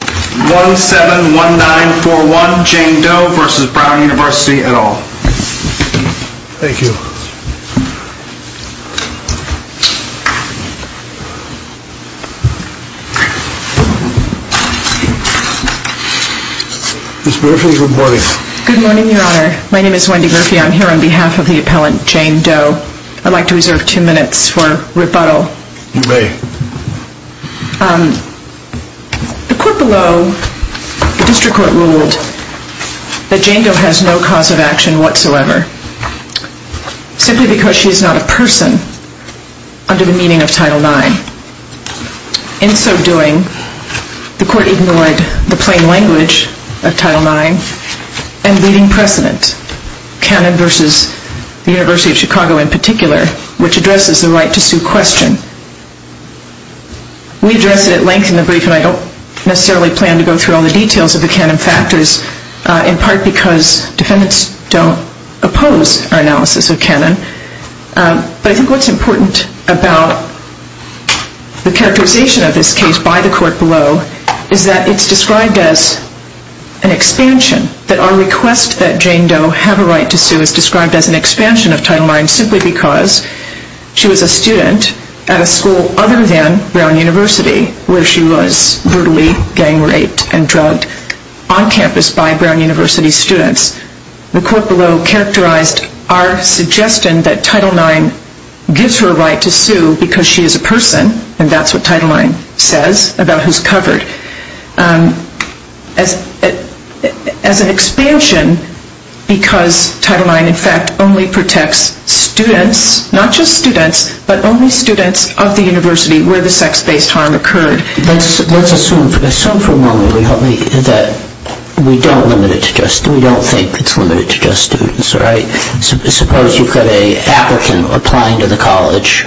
171941 Jane Doe v. Brown University, et al. Thank you. Ms. Murphy, good morning. Good morning, Your Honor. My name is Wendy Murphy. I'm here on behalf of the appellant, Jane Doe. I'd like to reserve two minutes for rebuttal. You may. The court below, the district court, ruled that Jane Doe has no cause of action whatsoever, simply because she is not a person under the meaning of Title IX. In so doing, the court ignored the plain language of Title IX and leading precedent, Canon v. University of Chicago in particular, which addresses the right to sue question. We addressed it at length in the brief, and I don't necessarily plan to go through all the details of the Canon factors, in part because defendants don't oppose our analysis of Canon. But I think what's important about the characterization of this case by the court below is that it's described as an expansion. That our request that Jane Doe have a right to sue is described as an expansion of Title IX simply because she was a student at a school other than Brown University where she was brutally gang raped and drugged on campus by Brown University students. The court below characterized our suggestion that Title IX gives her a right to sue because she is a person, and that's what Title IX says about who's covered. As an expansion, because Title IX in fact only protects students, not just students, but only students of the university where the sex-based harm occurred. Let's assume for a moment that we don't think it's limited to just students, right? Suppose you've got an applicant applying to the college,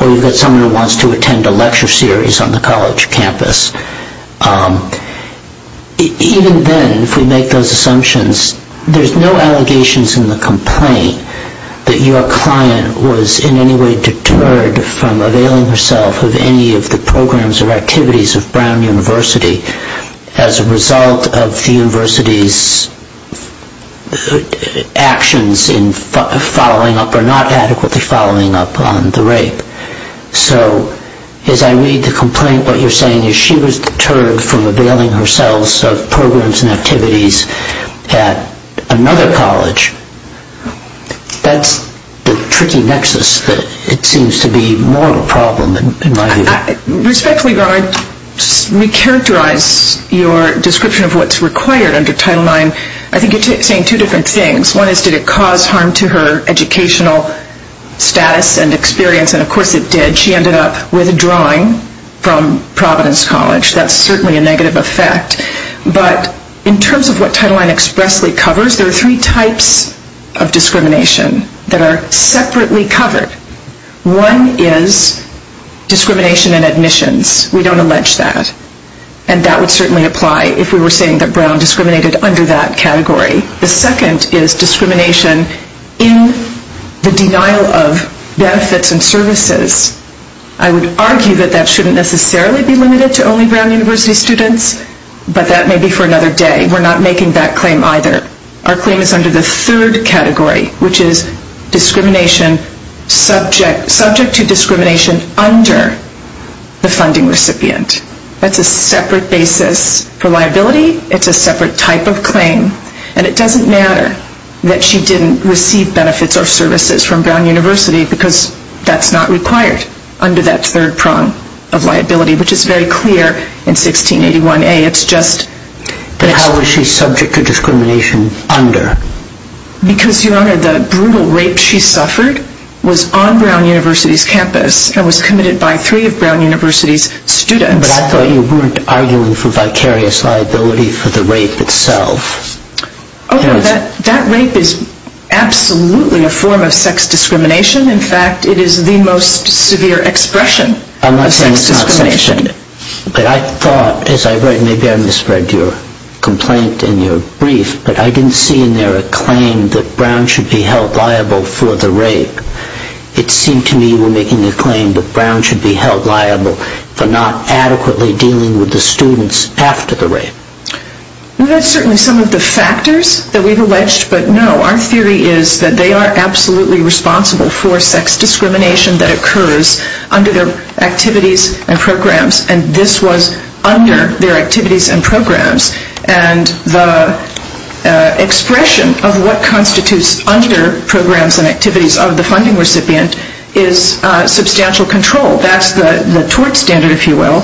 or you've got someone who wants to attend a lecture series on the college campus. Even then, if we make those assumptions, there's no allegations in the complaint that your client was in any way deterred from availing herself of any of the programs or activities of Brown University as a result of the university's actions in following up or not adequately following up on the rape. So as I read the complaint, what you're saying is she was deterred from availing herself of programs and activities at another college. That's the tricky nexus that seems to be more of a problem in my view. Respectfully, I'd like to re-characterize your description of what's required under Title IX. I think you're saying two different things. One is did it cause harm to her educational status and experience, and of course it did. She ended up withdrawing from Providence College. That's certainly a negative effect. But in terms of what Title IX expressly covers, there are three types of discrimination that are separately covered. One is discrimination in admissions. We don't allege that, and that would certainly apply if we were saying that Brown discriminated under that category. The second is discrimination in the denial of benefits and services. I would argue that that shouldn't necessarily be limited to only Brown University students, but that may be for another day. We're not making that claim either. Our claim is under the third category, which is discrimination subject to discrimination under the funding recipient. That's a separate basis for liability. It's a separate type of claim. And it doesn't matter that she didn't receive benefits or services from Brown University because that's not required under that third prong of liability, which is very clear in 1681A. But how was she subject to discrimination under? Because, Your Honor, the brutal rape she suffered was on Brown University's campus and was committed by three of Brown University's students. But I thought you weren't arguing for vicarious liability for the rape itself. That rape is absolutely a form of sex discrimination. In fact, it is the most severe expression of sex discrimination. But I thought, as I read, maybe I misread your complaint in your brief, but I didn't see in there a claim that Brown should be held liable for the rape. It seemed to me you were making a claim that Brown should be held liable for not adequately dealing with the students after the rape. That's certainly some of the factors that we've alleged, but no, our theory is that they are absolutely responsible for sex discrimination that occurs under their activities and programs, and this was under their activities and programs. And the expression of what constitutes under programs and activities of the funding recipient is substantial control. That's the tort standard, if you will,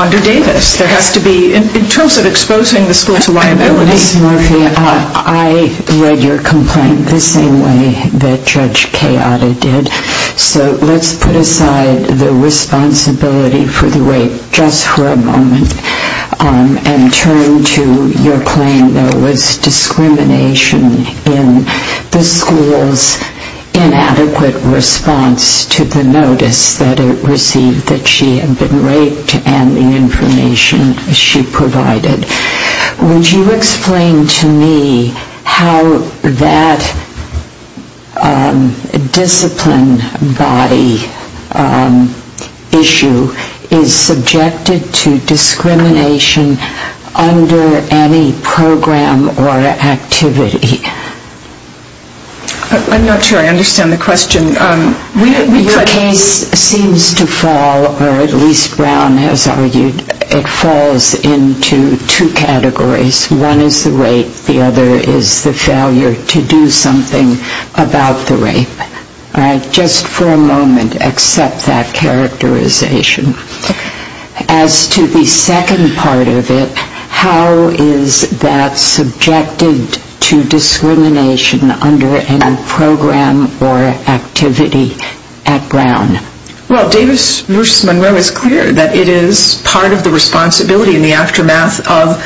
under Davis. There has to be, in terms of exposing the school to liability. Ms. Murphy, I read your complaint the same way that Judge Keada did. So let's put aside the responsibility for the rape just for a moment and turn to your claim that it was discrimination in the school's inadequate response to the notice that it received that she had been raped and the information she provided. Would you explain to me how that discipline body issue is subjected to discrimination under any program or activity? I'm not sure I understand the question. Your case seems to fall, or at least Brown has argued it falls into two categories. One is the rape. The other is the failure to do something about the rape. Just for a moment, accept that characterization. As to the second part of it, how is that subjected to discrimination under any program or activity at Brown? Well, Davis v. Monroe is clear that it is part of the responsibility in the aftermath of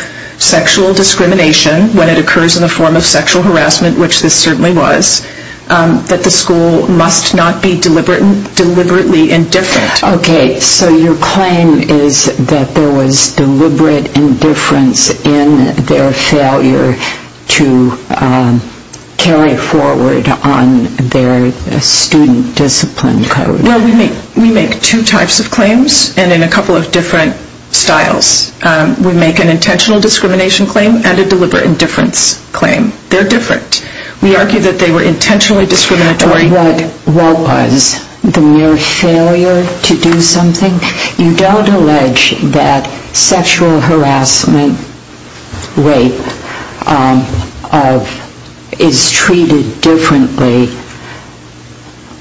sexual discrimination when it occurs in the form of sexual harassment, which this certainly was, that the school must not be deliberately indifferent. Okay, so your claim is that there was deliberate indifference in their failure to carry forward on their student discipline code. Well, we make two types of claims and in a couple of different styles. We make an intentional discrimination claim and a deliberate indifference claim. They're different. We argue that they were intentionally discriminatory. What was the mere failure to do something? You don't allege that sexual harassment, rape, is treated differently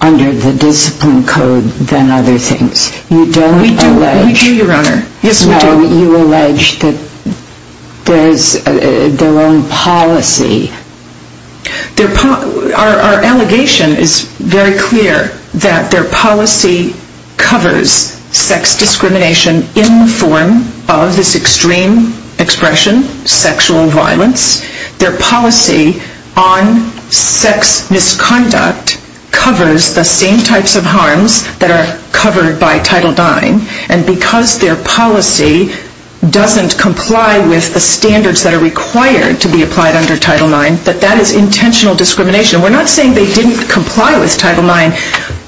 under the discipline code than other things. We do, Your Honor. Yes, we do. You allege that there's their own policy. Our allegation is very clear that their policy covers sex discrimination in the form of this extreme expression, sexual violence. Their policy on sex misconduct covers the same types of harms that are covered by Title IX. And because their policy doesn't comply with the standards that are required to be applied under Title IX, that that is intentional discrimination. We're not saying they didn't comply with Title IX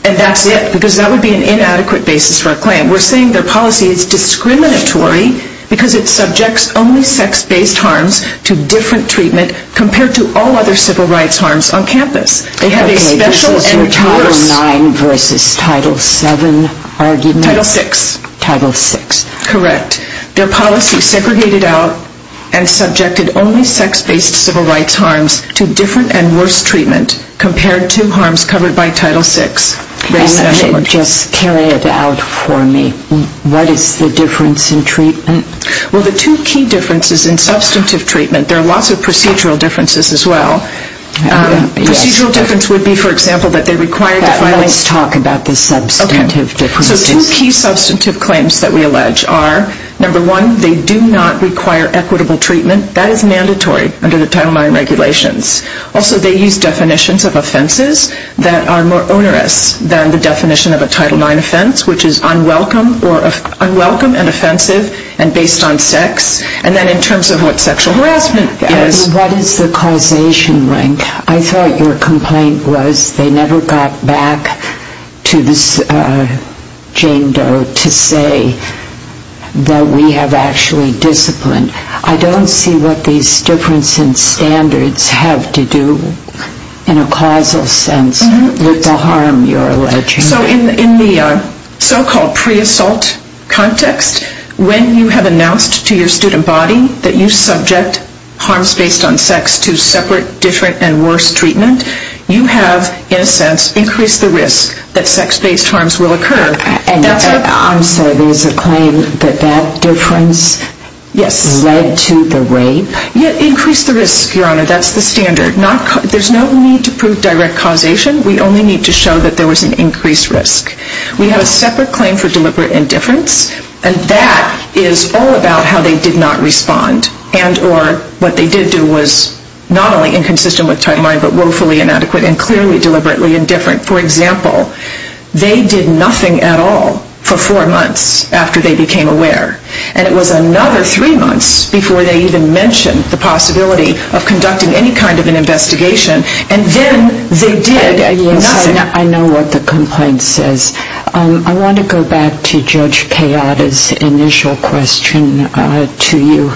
and that's it, because that would be an inadequate basis for a claim. We're saying their policy is discriminatory because it subjects only sex-based harms to different treatment compared to all other civil rights harms on campus. Okay, this is your Title IX versus Title VII argument? Title VI. Title VI. Correct. Their policy segregated out and subjected only sex-based civil rights harms to different and worse treatment compared to harms covered by Title VI. Just carry it out for me. What is the difference in treatment? Well, the two key differences in substantive treatment, there are lots of procedural differences as well. Procedural difference would be, for example, that they require... Let's talk about the substantive differences. So two key substantive claims that we allege are, number one, they do not require equitable treatment. That is mandatory under the Title IX regulations. Also, they use definitions of offenses that are more onerous than the definition of a Title IX offense, which is unwelcome and offensive and based on sex. And then in terms of what sexual harassment is... What is the causation rank? I thought your complaint was they never got back to Jane Doe to say that we have actually disciplined. I don't see what these difference in standards have to do, in a causal sense, with the harm you're alleging. So in the so-called pre-assault context, when you have announced to your student body that you subject harms based on sex to separate, different, and worse treatment, you have, in a sense, increased the risk that sex-based harms will occur. I'm sorry, there's a claim that that difference led to the rape? Increase the risk, Your Honor. That's the standard. There's no need to prove direct causation. We only need to show that there was an increased risk. We have a separate claim for deliberate indifference, and that is all about how they did not respond and or what they did do was not only inconsistent with timeline, but woefully inadequate and clearly deliberately indifferent. For example, they did nothing at all for four months after they became aware, and it was another three months before they even mentioned the possibility of conducting any kind of an investigation, and then they did nothing. I know what the complaint says. I want to go back to Judge Kayada's initial question to you.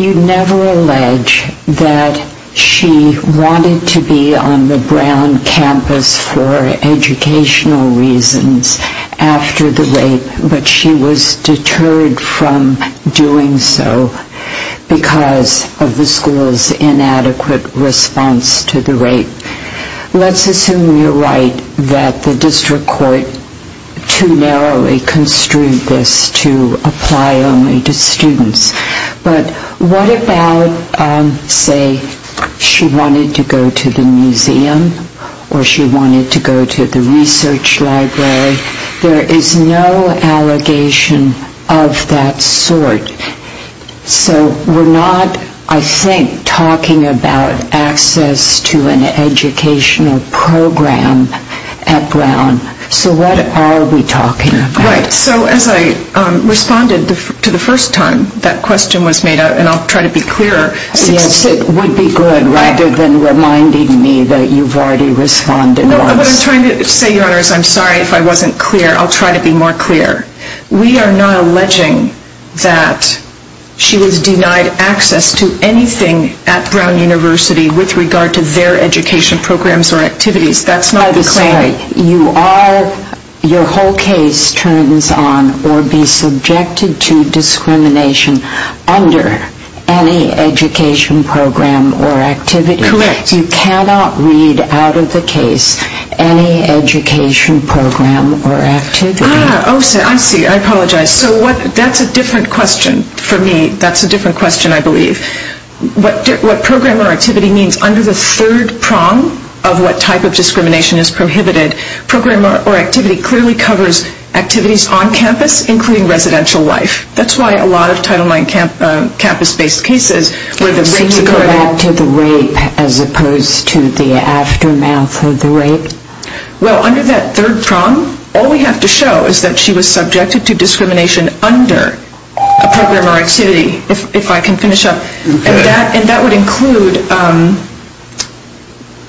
You never allege that she wanted to be on the Brown campus for educational reasons after the rape, but she was deterred from doing so because of the school's inadequate response to the rape. Let's assume you're right that the district court too narrowly construed this to apply only to students. But what about, say, she wanted to go to the museum or she wanted to go to the research library? There is no allegation of that sort. So we're not, I think, talking about access to an educational program at Brown. So what are we talking about? Right, so as I responded to the first time that question was made, and I'll try to be clearer... Yes, it would be good rather than reminding me that you've already responded once. No, what I'm trying to say, Your Honor, is I'm sorry if I wasn't clear. I'll try to be more clear. We are not alleging that she was denied access to anything at Brown University with regard to their education programs or activities. That's not the claim. I'm sorry. Your whole case turns on or be subjected to discrimination under any education program or activity. Correct. You cannot read out of the case any education program or activity. Ah, I see. I apologize. So that's a different question for me. That's a different question, I believe. What program or activity means under the third prong of what type of discrimination is prohibited? Program or activity clearly covers activities on campus, including residential life. That's why a lot of Title IX campus-based cases where the rapes occur... So you're reacting to the rape as opposed to the aftermath of the rape? Well, under that third prong, all we have to show is that she was subjected to discrimination under a program or activity, if I can finish up. And that would include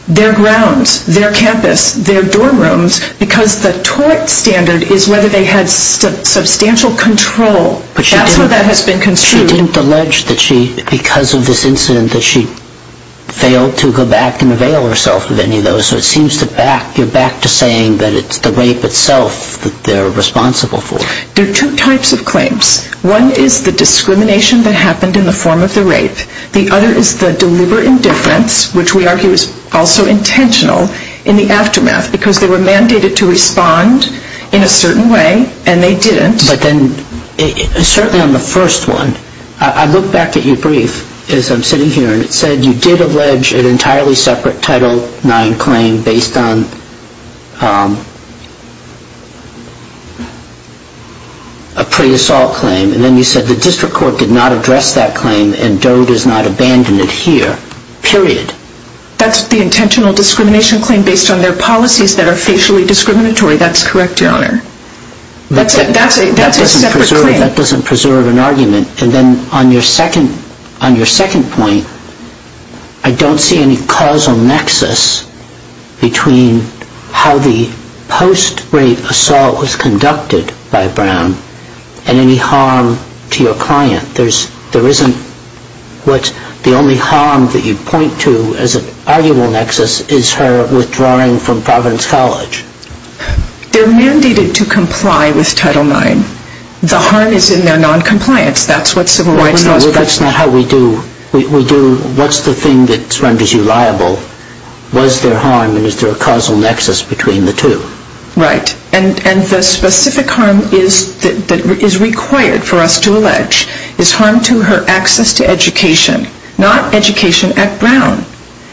their grounds, their campus, their dorm rooms, because the tort standard is whether they had substantial control. That's where that has been construed. But she didn't allege that she, because of this incident, that she failed to go back and avail herself of any of those. So it seems you're back to saying that it's the rape itself that they're responsible for. There are two types of claims. One is the discrimination that happened in the form of the rape. The other is the deliberate indifference, which we argue is also intentional, in the aftermath, because they were mandated to respond in a certain way, and they didn't. But then, certainly on the first one, I look back at your brief as I'm sitting here, and it said you did allege an entirely separate Title IX claim based on a pre-assault claim. And then you said the district court did not address that claim, and DOE does not abandon it here, period. That's the intentional discrimination claim based on their policies that are facially discriminatory. That's correct, Your Honor. That's a separate claim. That doesn't preserve an argument. And then on your second point, I don't see any causal nexus between how the post-rape assault was conducted by Brown and any harm to your client. There isn't what's the only harm that you point to as an arguable nexus is her withdrawing from Providence College. They're mandated to comply with Title IX. The harm is in their noncompliance. That's what civil rights law is for. That's not how we do... What's the thing that renders you liable? Was there harm, and is there a causal nexus between the two? Right. And the specific harm that is required for us to allege is harm to her access to education, not education at Brown.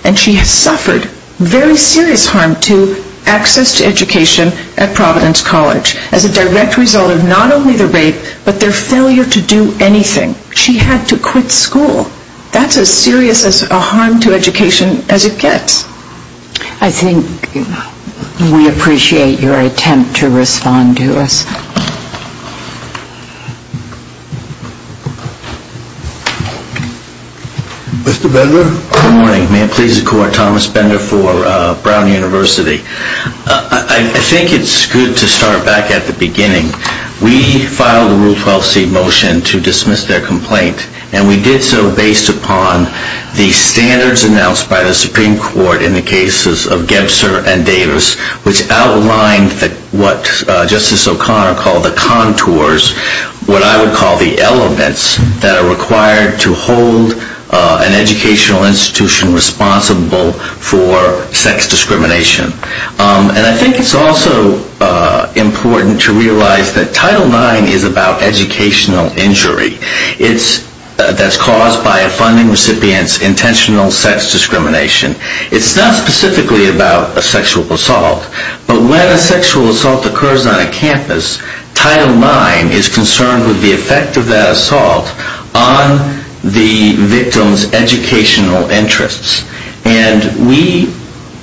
And she has suffered very serious harm to access to education at Providence College as a direct result of not only the rape, but their failure to do anything. She had to quit school. That's as serious a harm to education as it gets. I think we appreciate your attempt to respond to us. Mr. Bender? Good morning. May it please the Court. Thomas Bender for Brown University. I think it's good to start back at the beginning. We filed a Rule 12c motion to dismiss their complaint, and we did so based upon the standards announced by the Supreme Court in the cases of Gebser and Davis, which outlined what Justice O'Connor called the contours, what I would call the elements, that are required to hold an educational institution responsible for sex discrimination. And I think it's also important to realize that Title IX is about educational injury that's caused by a funding recipient's intentional sex discrimination. It's not specifically about a sexual assault, but when a sexual assault occurs on a campus, Title IX is concerned with the effect of that assault on the victim's educational interests. And we,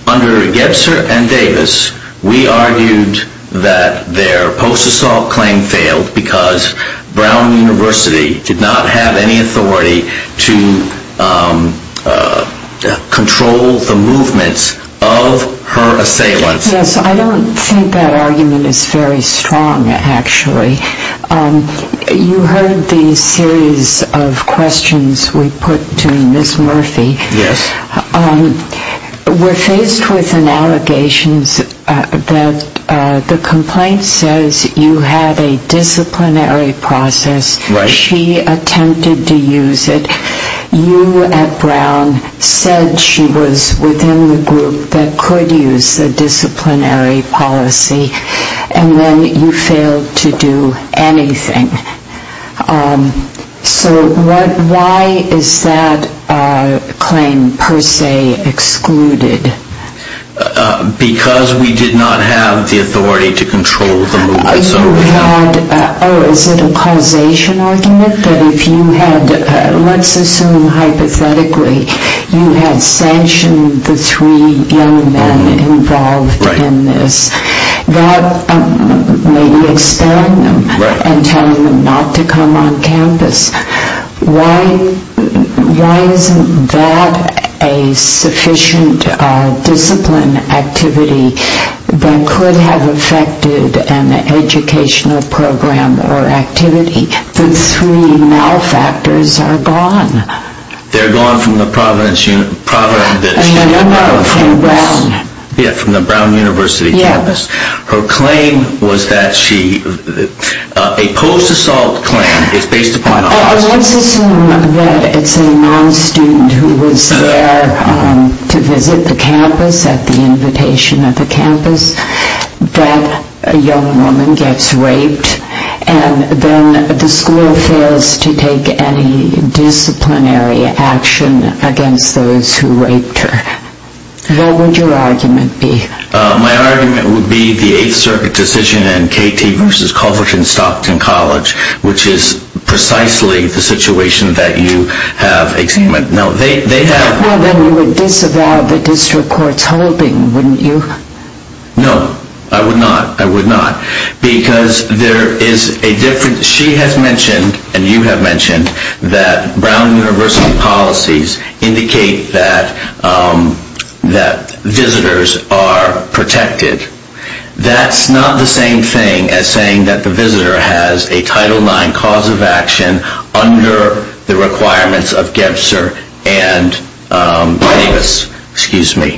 under Gebser and Davis, we argued that their post-assault claim failed because Brown University did not have any authority to control the movements of her assailants. Yes, I don't think that argument is very strong, actually. You heard the series of questions we put to Ms. Murphy. Yes. We're faced with an allegation that the complaint says you had a disciplinary process. Right. She attempted to use it. You at Brown said she was within the group that could use the disciplinary policy, and then you failed to do anything. So why is that claim per se excluded? Because we did not have the authority to control the movements. Oh, is it a causation argument? That if you had, let's assume hypothetically, you had sanctioned the three young men involved in this, that may be expelling them and telling them not to come on campus. Why isn't that a sufficient discipline activity that could have affected an educational program or activity? The three malfactors are gone. They're gone from the Brown University campus. Her claim was that she, a post-assault claim, is based upon- Let's assume that it's a non-student who was there to visit the campus at the invitation of the campus, that a young woman gets raped, and then the school fails to take any disciplinary action against those who raped her. What would your argument be? My argument would be the Eighth Circuit decision in KT v. Culverton-Stockton College, which is precisely the situation that you have examined. Well, then you would disavow the district court's holding, wouldn't you? No, I would not. Because there is a difference. She has mentioned, and you have mentioned, that Brown University policies indicate that visitors are protected. That's not the same thing as saying that the visitor has a Title IX cause of action under the requirements of Gebser and Davis. We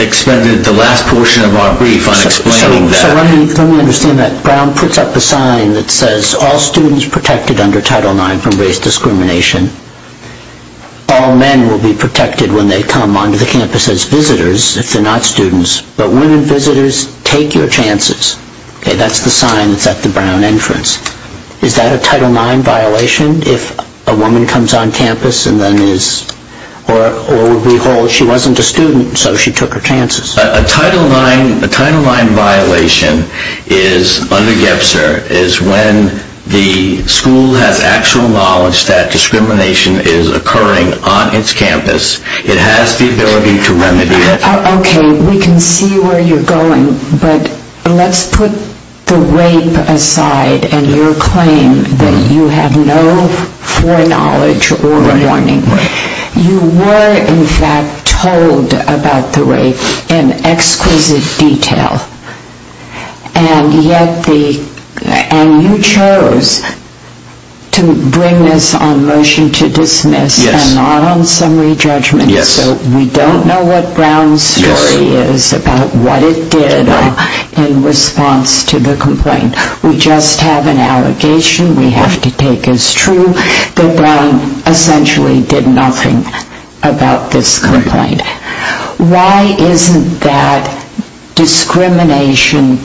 expended the last portion of our brief on explaining that. Let me understand that. Brown puts up a sign that says, All students protected under Title IX from race discrimination. All men will be protected when they come onto the campus as visitors, if they're not students. But women visitors, take your chances. That's the sign that's at the Brown entrance. Is that a Title IX violation, if a woman comes on campus and then is- or, behold, she wasn't a student, so she took her chances? A Title IX violation under Gebser is when the school has actual knowledge that discrimination is occurring on its campus. It has the ability to remedy it. Okay, we can see where you're going, but let's put the rape aside and your claim that you have no foreknowledge or warning. You were, in fact, told about the rape in exquisite detail, and yet the- and you chose to bring this on motion to dismiss and not on summary judgment, so we don't know what Brown's story is about what it did in response to the complaint. We just have an allegation we have to take as true that Brown essentially did nothing about this complaint. Why isn't that discrimination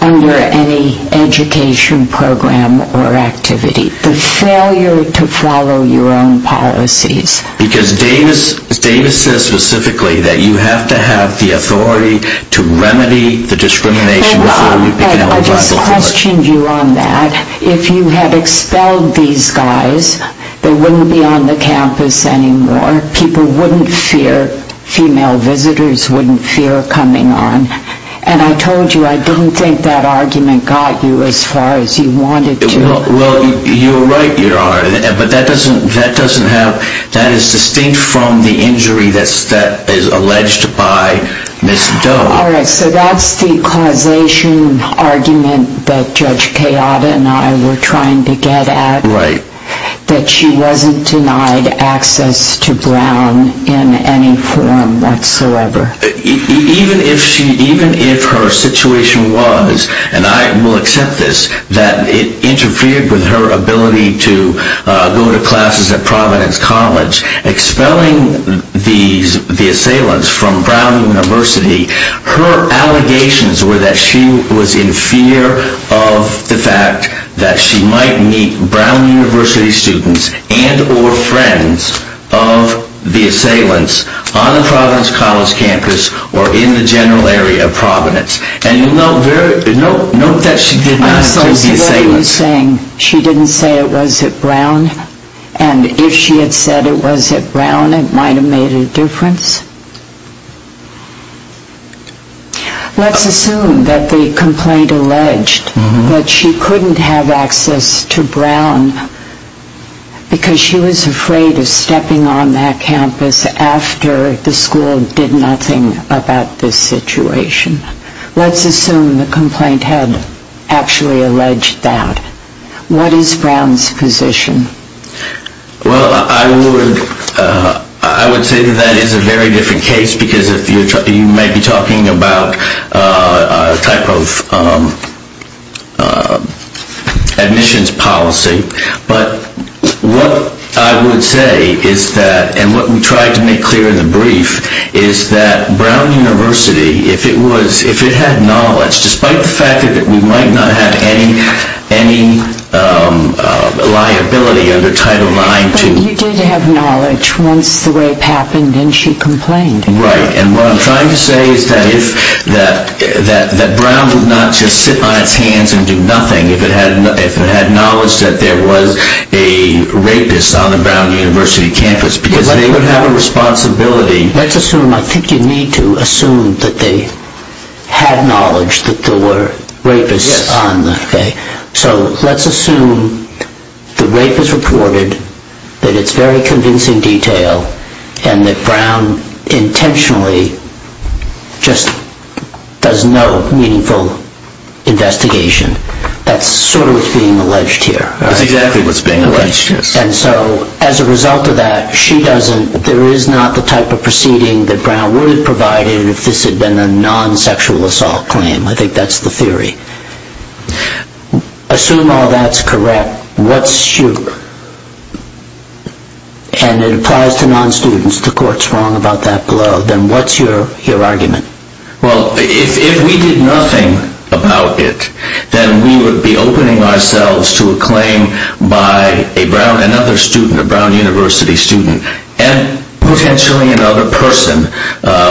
under any education program or activity? The failure to follow your own policies. Because Davis says specifically that you have to have the authority to remedy the discrimination before you begin to- I just questioned you on that. If you had expelled these guys, they wouldn't be on the campus anymore. People wouldn't fear- female visitors wouldn't fear coming on. And I told you I didn't think that argument got you as far as you wanted to. Well, you're right you are, but that doesn't have- that is distinct from the injury that is alleged by Ms. Doe. All right, so that's the causation argument that Judge Kayada and I were trying to get at, that she wasn't denied access to Brown in any form whatsoever. Even if her situation was, and I will accept this, that it interfered with her ability to go to classes at Providence College, expelling the assailants from Brown University, her allegations were that she was in fear of the fact that she might meet Brown University students and or friends of the assailants on the Providence College campus or in the general area of Providence. And note that she did not- So what are you saying? She didn't say it was at Brown? And if she had said it was at Brown, it might have made a difference? Let's assume that the complaint alleged that she couldn't have access to Brown because she was afraid of stepping on that campus after the school did nothing about this situation. Let's assume the complaint had actually alleged that. What is Brown's position? Well, I would say that that is a very different case because you might be talking about a type of admissions policy. But what I would say is that, and what we tried to make clear in the brief, is that Brown University, if it had knowledge, despite the fact that we might not have any liability under Title IX to- But you did have knowledge once the rape happened and she complained. Right, and what I'm trying to say is that Brown would not just sit on its hands and do nothing if it had knowledge that there was a rapist on the Brown University campus because they would have a responsibility- Let's assume, I think you need to assume, that they had knowledge that there were rapists on the- So let's assume the rape is reported, that it's very convincing detail, and that Brown intentionally just does no meaningful investigation. That's sort of what's being alleged here. That's exactly what's being alleged, yes. And so, as a result of that, she doesn't- There is not the type of proceeding that Brown would have provided if this had been a non-sexual assault claim. I think that's the theory. Assume all that's correct, what's- And it applies to non-students, the court's wrong about that below. Then what's your argument? Well, if we did nothing about it, then we would be opening ourselves to a claim by another student, a Brown University student, and potentially another person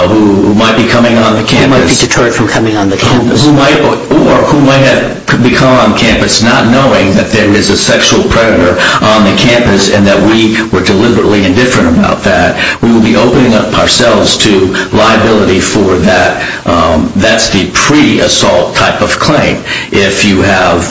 who might be coming on the campus- Who might be deterred from coming on the campus. Or who might have become on campus not knowing that there is a sexual predator on the campus and that we were deliberately indifferent about that. We would be opening ourselves to liability for that. That's the pre-assault type of claim. If you have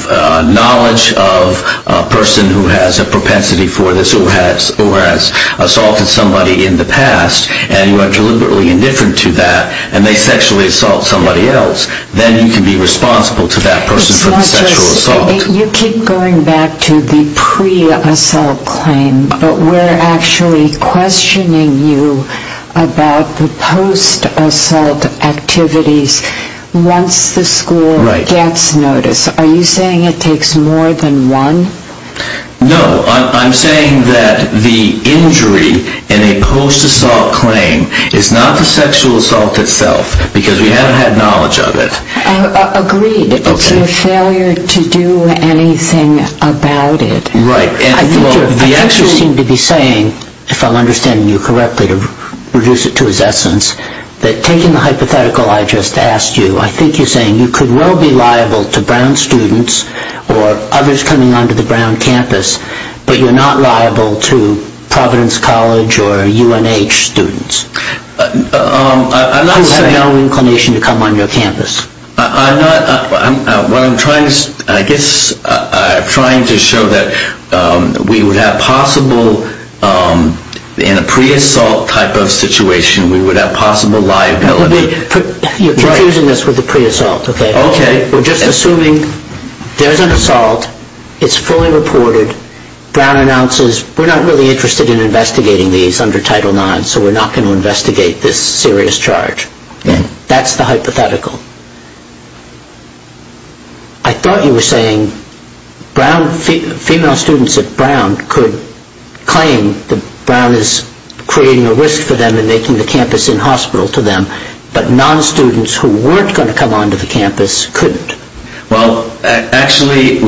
knowledge of a person who has a propensity for this or has assaulted somebody in the past and you are deliberately indifferent to that and they sexually assault somebody else, then you can be responsible to that person for the sexual assault. You keep going back to the pre-assault claim, but we're actually questioning you about the post-assault activities once the school gets notice. Are you saying it takes more than one? No, I'm saying that the injury in a post-assault claim is not the sexual assault itself because we haven't had knowledge of it. Agreed, it's your failure to do anything about it. I think you seem to be saying, if I'm understanding you correctly to reduce it to its essence, that taking the hypothetical I just asked you, I think you're saying you could well be liable to Brown students or others coming onto the Brown campus, but you're not liable to Providence College or UNH students. I'm not saying- Who have no inclination to come on your campus. I guess I'm trying to show that we would have possible, in a pre-assault type of situation, we would have possible liability. You're confusing this with the pre-assault, okay? Okay. We're just assuming there's an assault, it's fully reported, Brown announces we're not really interested in investigating these under Title IX, so we're not going to investigate this serious charge. That's the hypothetical. I thought you were saying Brown, female students at Brown, could claim that Brown is creating a risk for them and making the campus in-hospital to them, but non-students who weren't going to come onto the campus couldn't. Well, actually,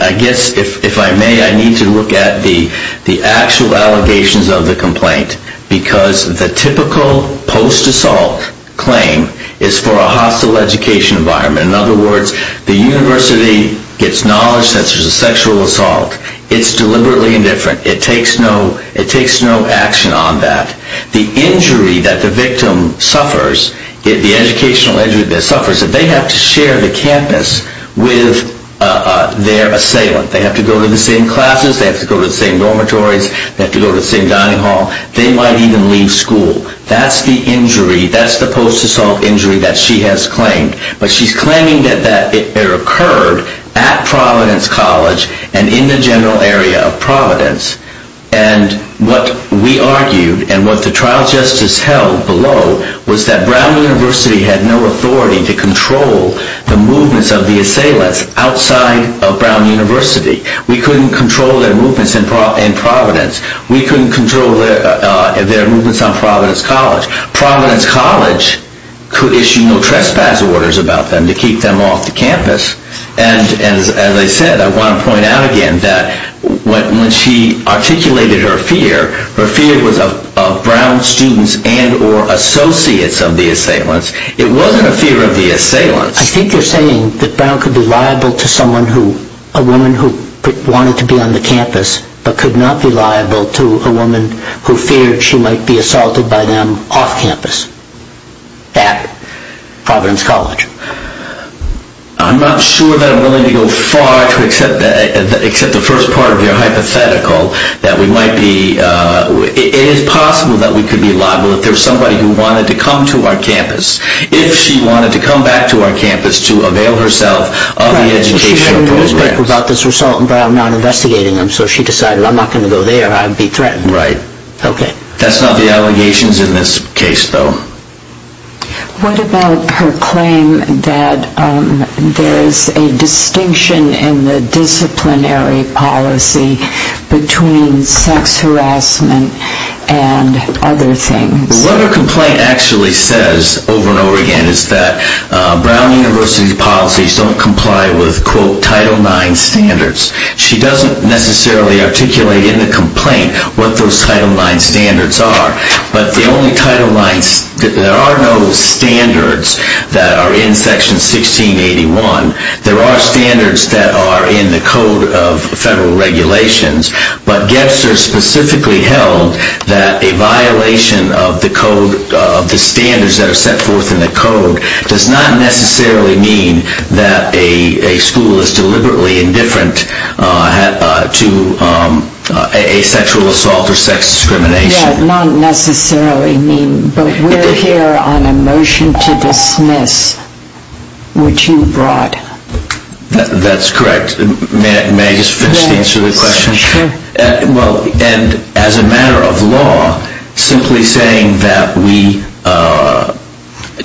I guess if I may, I need to look at the actual allegations of the complaint because the typical post-assault claim is for a hostile education environment. In other words, the university gets knowledge that there's a sexual assault. It's deliberately indifferent. It takes no action on that. The injury that the victim suffers, the educational injury that suffers, they have to share the campus with their assailant. They have to go to the same classes, they have to go to the same dormitories, they have to go to the same dining hall. They might even leave school. That's the injury, that's the post-assault injury that she has claimed. But she's claiming that it occurred at Providence College and in the general area of Providence. And what we argued and what the trial justice held below was that Brown University had no authority to control the movements of the assailants outside of Brown University. We couldn't control their movements in Providence. We couldn't control their movements on Providence College. Providence College could issue no trespass orders about them to keep them off the campus. And as I said, I want to point out again that when she articulated her fear, her fear was of Brown students and or associates of the assailants. It wasn't a fear of the assailants. I think you're saying that Brown could be liable to someone who, a woman who wanted to be on the campus but could not be liable to a woman who feared she might be assaulted by them off campus at Providence College. I'm not sure that I'm willing to go far to accept the first part of your hypothetical that we might be, it is possible that we could be liable if there was somebody who wanted to come to our campus. If she wanted to come back to our campus to avail herself of the educational program. I'm not sure about this result, but I'm not investigating them. So if she decided I'm not going to go there, I'd be threatened. Right. Okay. That's not the allegations in this case, though. What about her claim that there's a distinction in the disciplinary policy between sex harassment and other things? What her complaint actually says over and over again is that she doesn't necessarily articulate in the complaint what those Title IX standards are, but there are no standards that are in Section 1681. There are standards that are in the Code of Federal Regulations, but Gebser specifically held that a violation of the standards that are set forth in the Code does not necessarily mean that a school is deliberately indifferent to asexual assault or sex discrimination. Yeah, not necessarily mean, but we're here on a motion to dismiss, which you brought. That's correct. May I just finish the answer to the question? Yes, sure. Well, and as a matter of law, simply saying that we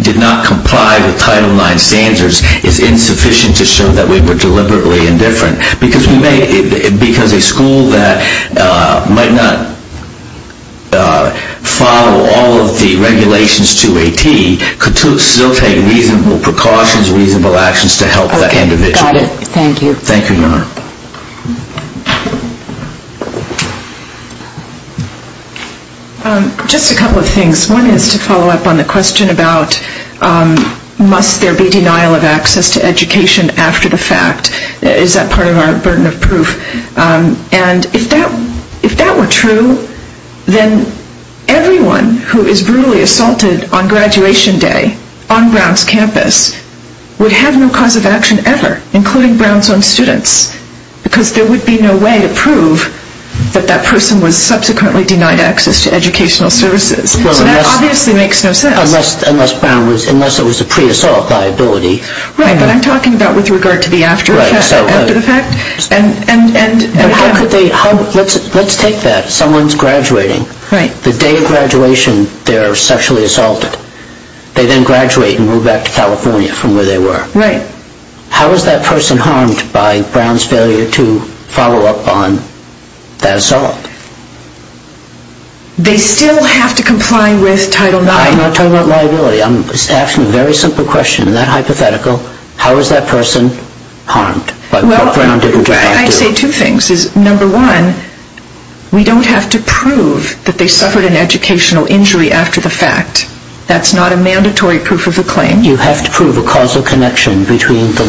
did not comply with Title IX standards is insufficient to show that we were deliberately indifferent, because a school that might not follow all of the regulations to a T could still take reasonable precautions, reasonable actions to help that individual. Okay, got it. Thank you. Thank you, Your Honor. Just a couple of things. One is to follow up on the question about must there be denial of access to education after the fact. Is that part of our burden of proof? And if that were true, then everyone who is brutally assaulted on graduation day on Brown's campus would have no cause of action ever, including Brown's own students, because there would be no way to prove that that person was subsequently denied access to educational services. So that obviously makes no sense. Unless it was a pre-assault liability. Right, but I'm talking about with regard to the after the fact. Let's take that. Someone's graduating. The day of graduation, they're sexually assaulted. They then graduate and move back to California from where they were. Right. How is that person harmed by Brown's failure to follow up on that assault? They still have to comply with Title IX. I'm not talking about liability. I'm asking a very simple question. In that hypothetical, how is that person harmed by what Brown didn't have to do? Well, I'd say two things. Number one, we don't have to prove that they suffered an educational injury after the fact. That's not a mandatory proof of the claim. You have to prove a causal connection between the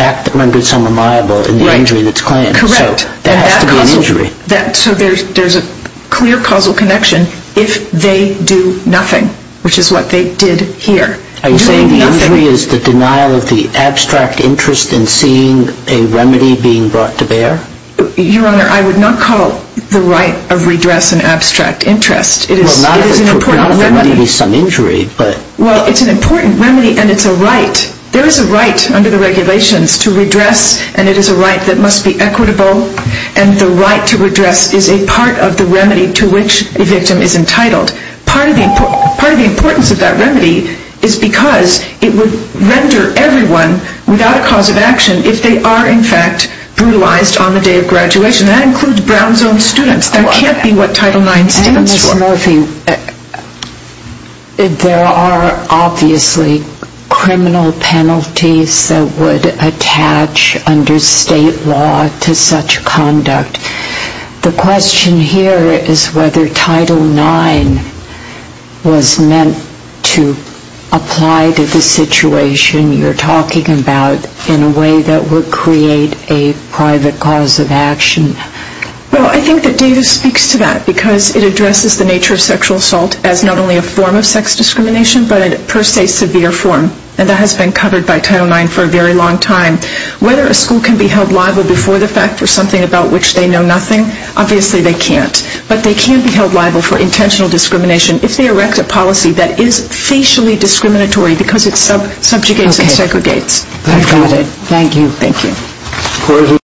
act that rendered someone liable and the injury that's claimed. Correct. So that has to be an injury. So there's a clear causal connection if they do nothing, which is what they did here. Are you saying the injury is the denial of the abstract interest in seeing a remedy being brought to bear? Your Honor, I would not call the right of redress an abstract interest. It is an important remedy. Well, it's an important remedy, and it's a right. There is a right under the regulations to redress, and it is a right that must be equitable. And the right to redress is a part of the remedy to which the victim is entitled. Part of the importance of that remedy is because it would render everyone without a cause of action if they are, in fact, brutalized on the day of graduation. That includes Brown's own students. That can't be what Title IX stands for. Judge Murphy, there are obviously criminal penalties that would attach under state law to such conduct. The question here is whether Title IX was meant to apply to the situation you're talking about in a way that would create a private cause of action. Well, I think that Davis speaks to that because it addresses the nature of sexual assault as not only a form of sex discrimination, but a per se severe form. And that has been covered by Title IX for a very long time. Whether a school can be held liable before the fact for something about which they know nothing, obviously they can't. But they can be held liable for intentional discrimination if they erect a policy that is facially discriminatory because it subjugates and segregates. Thank you.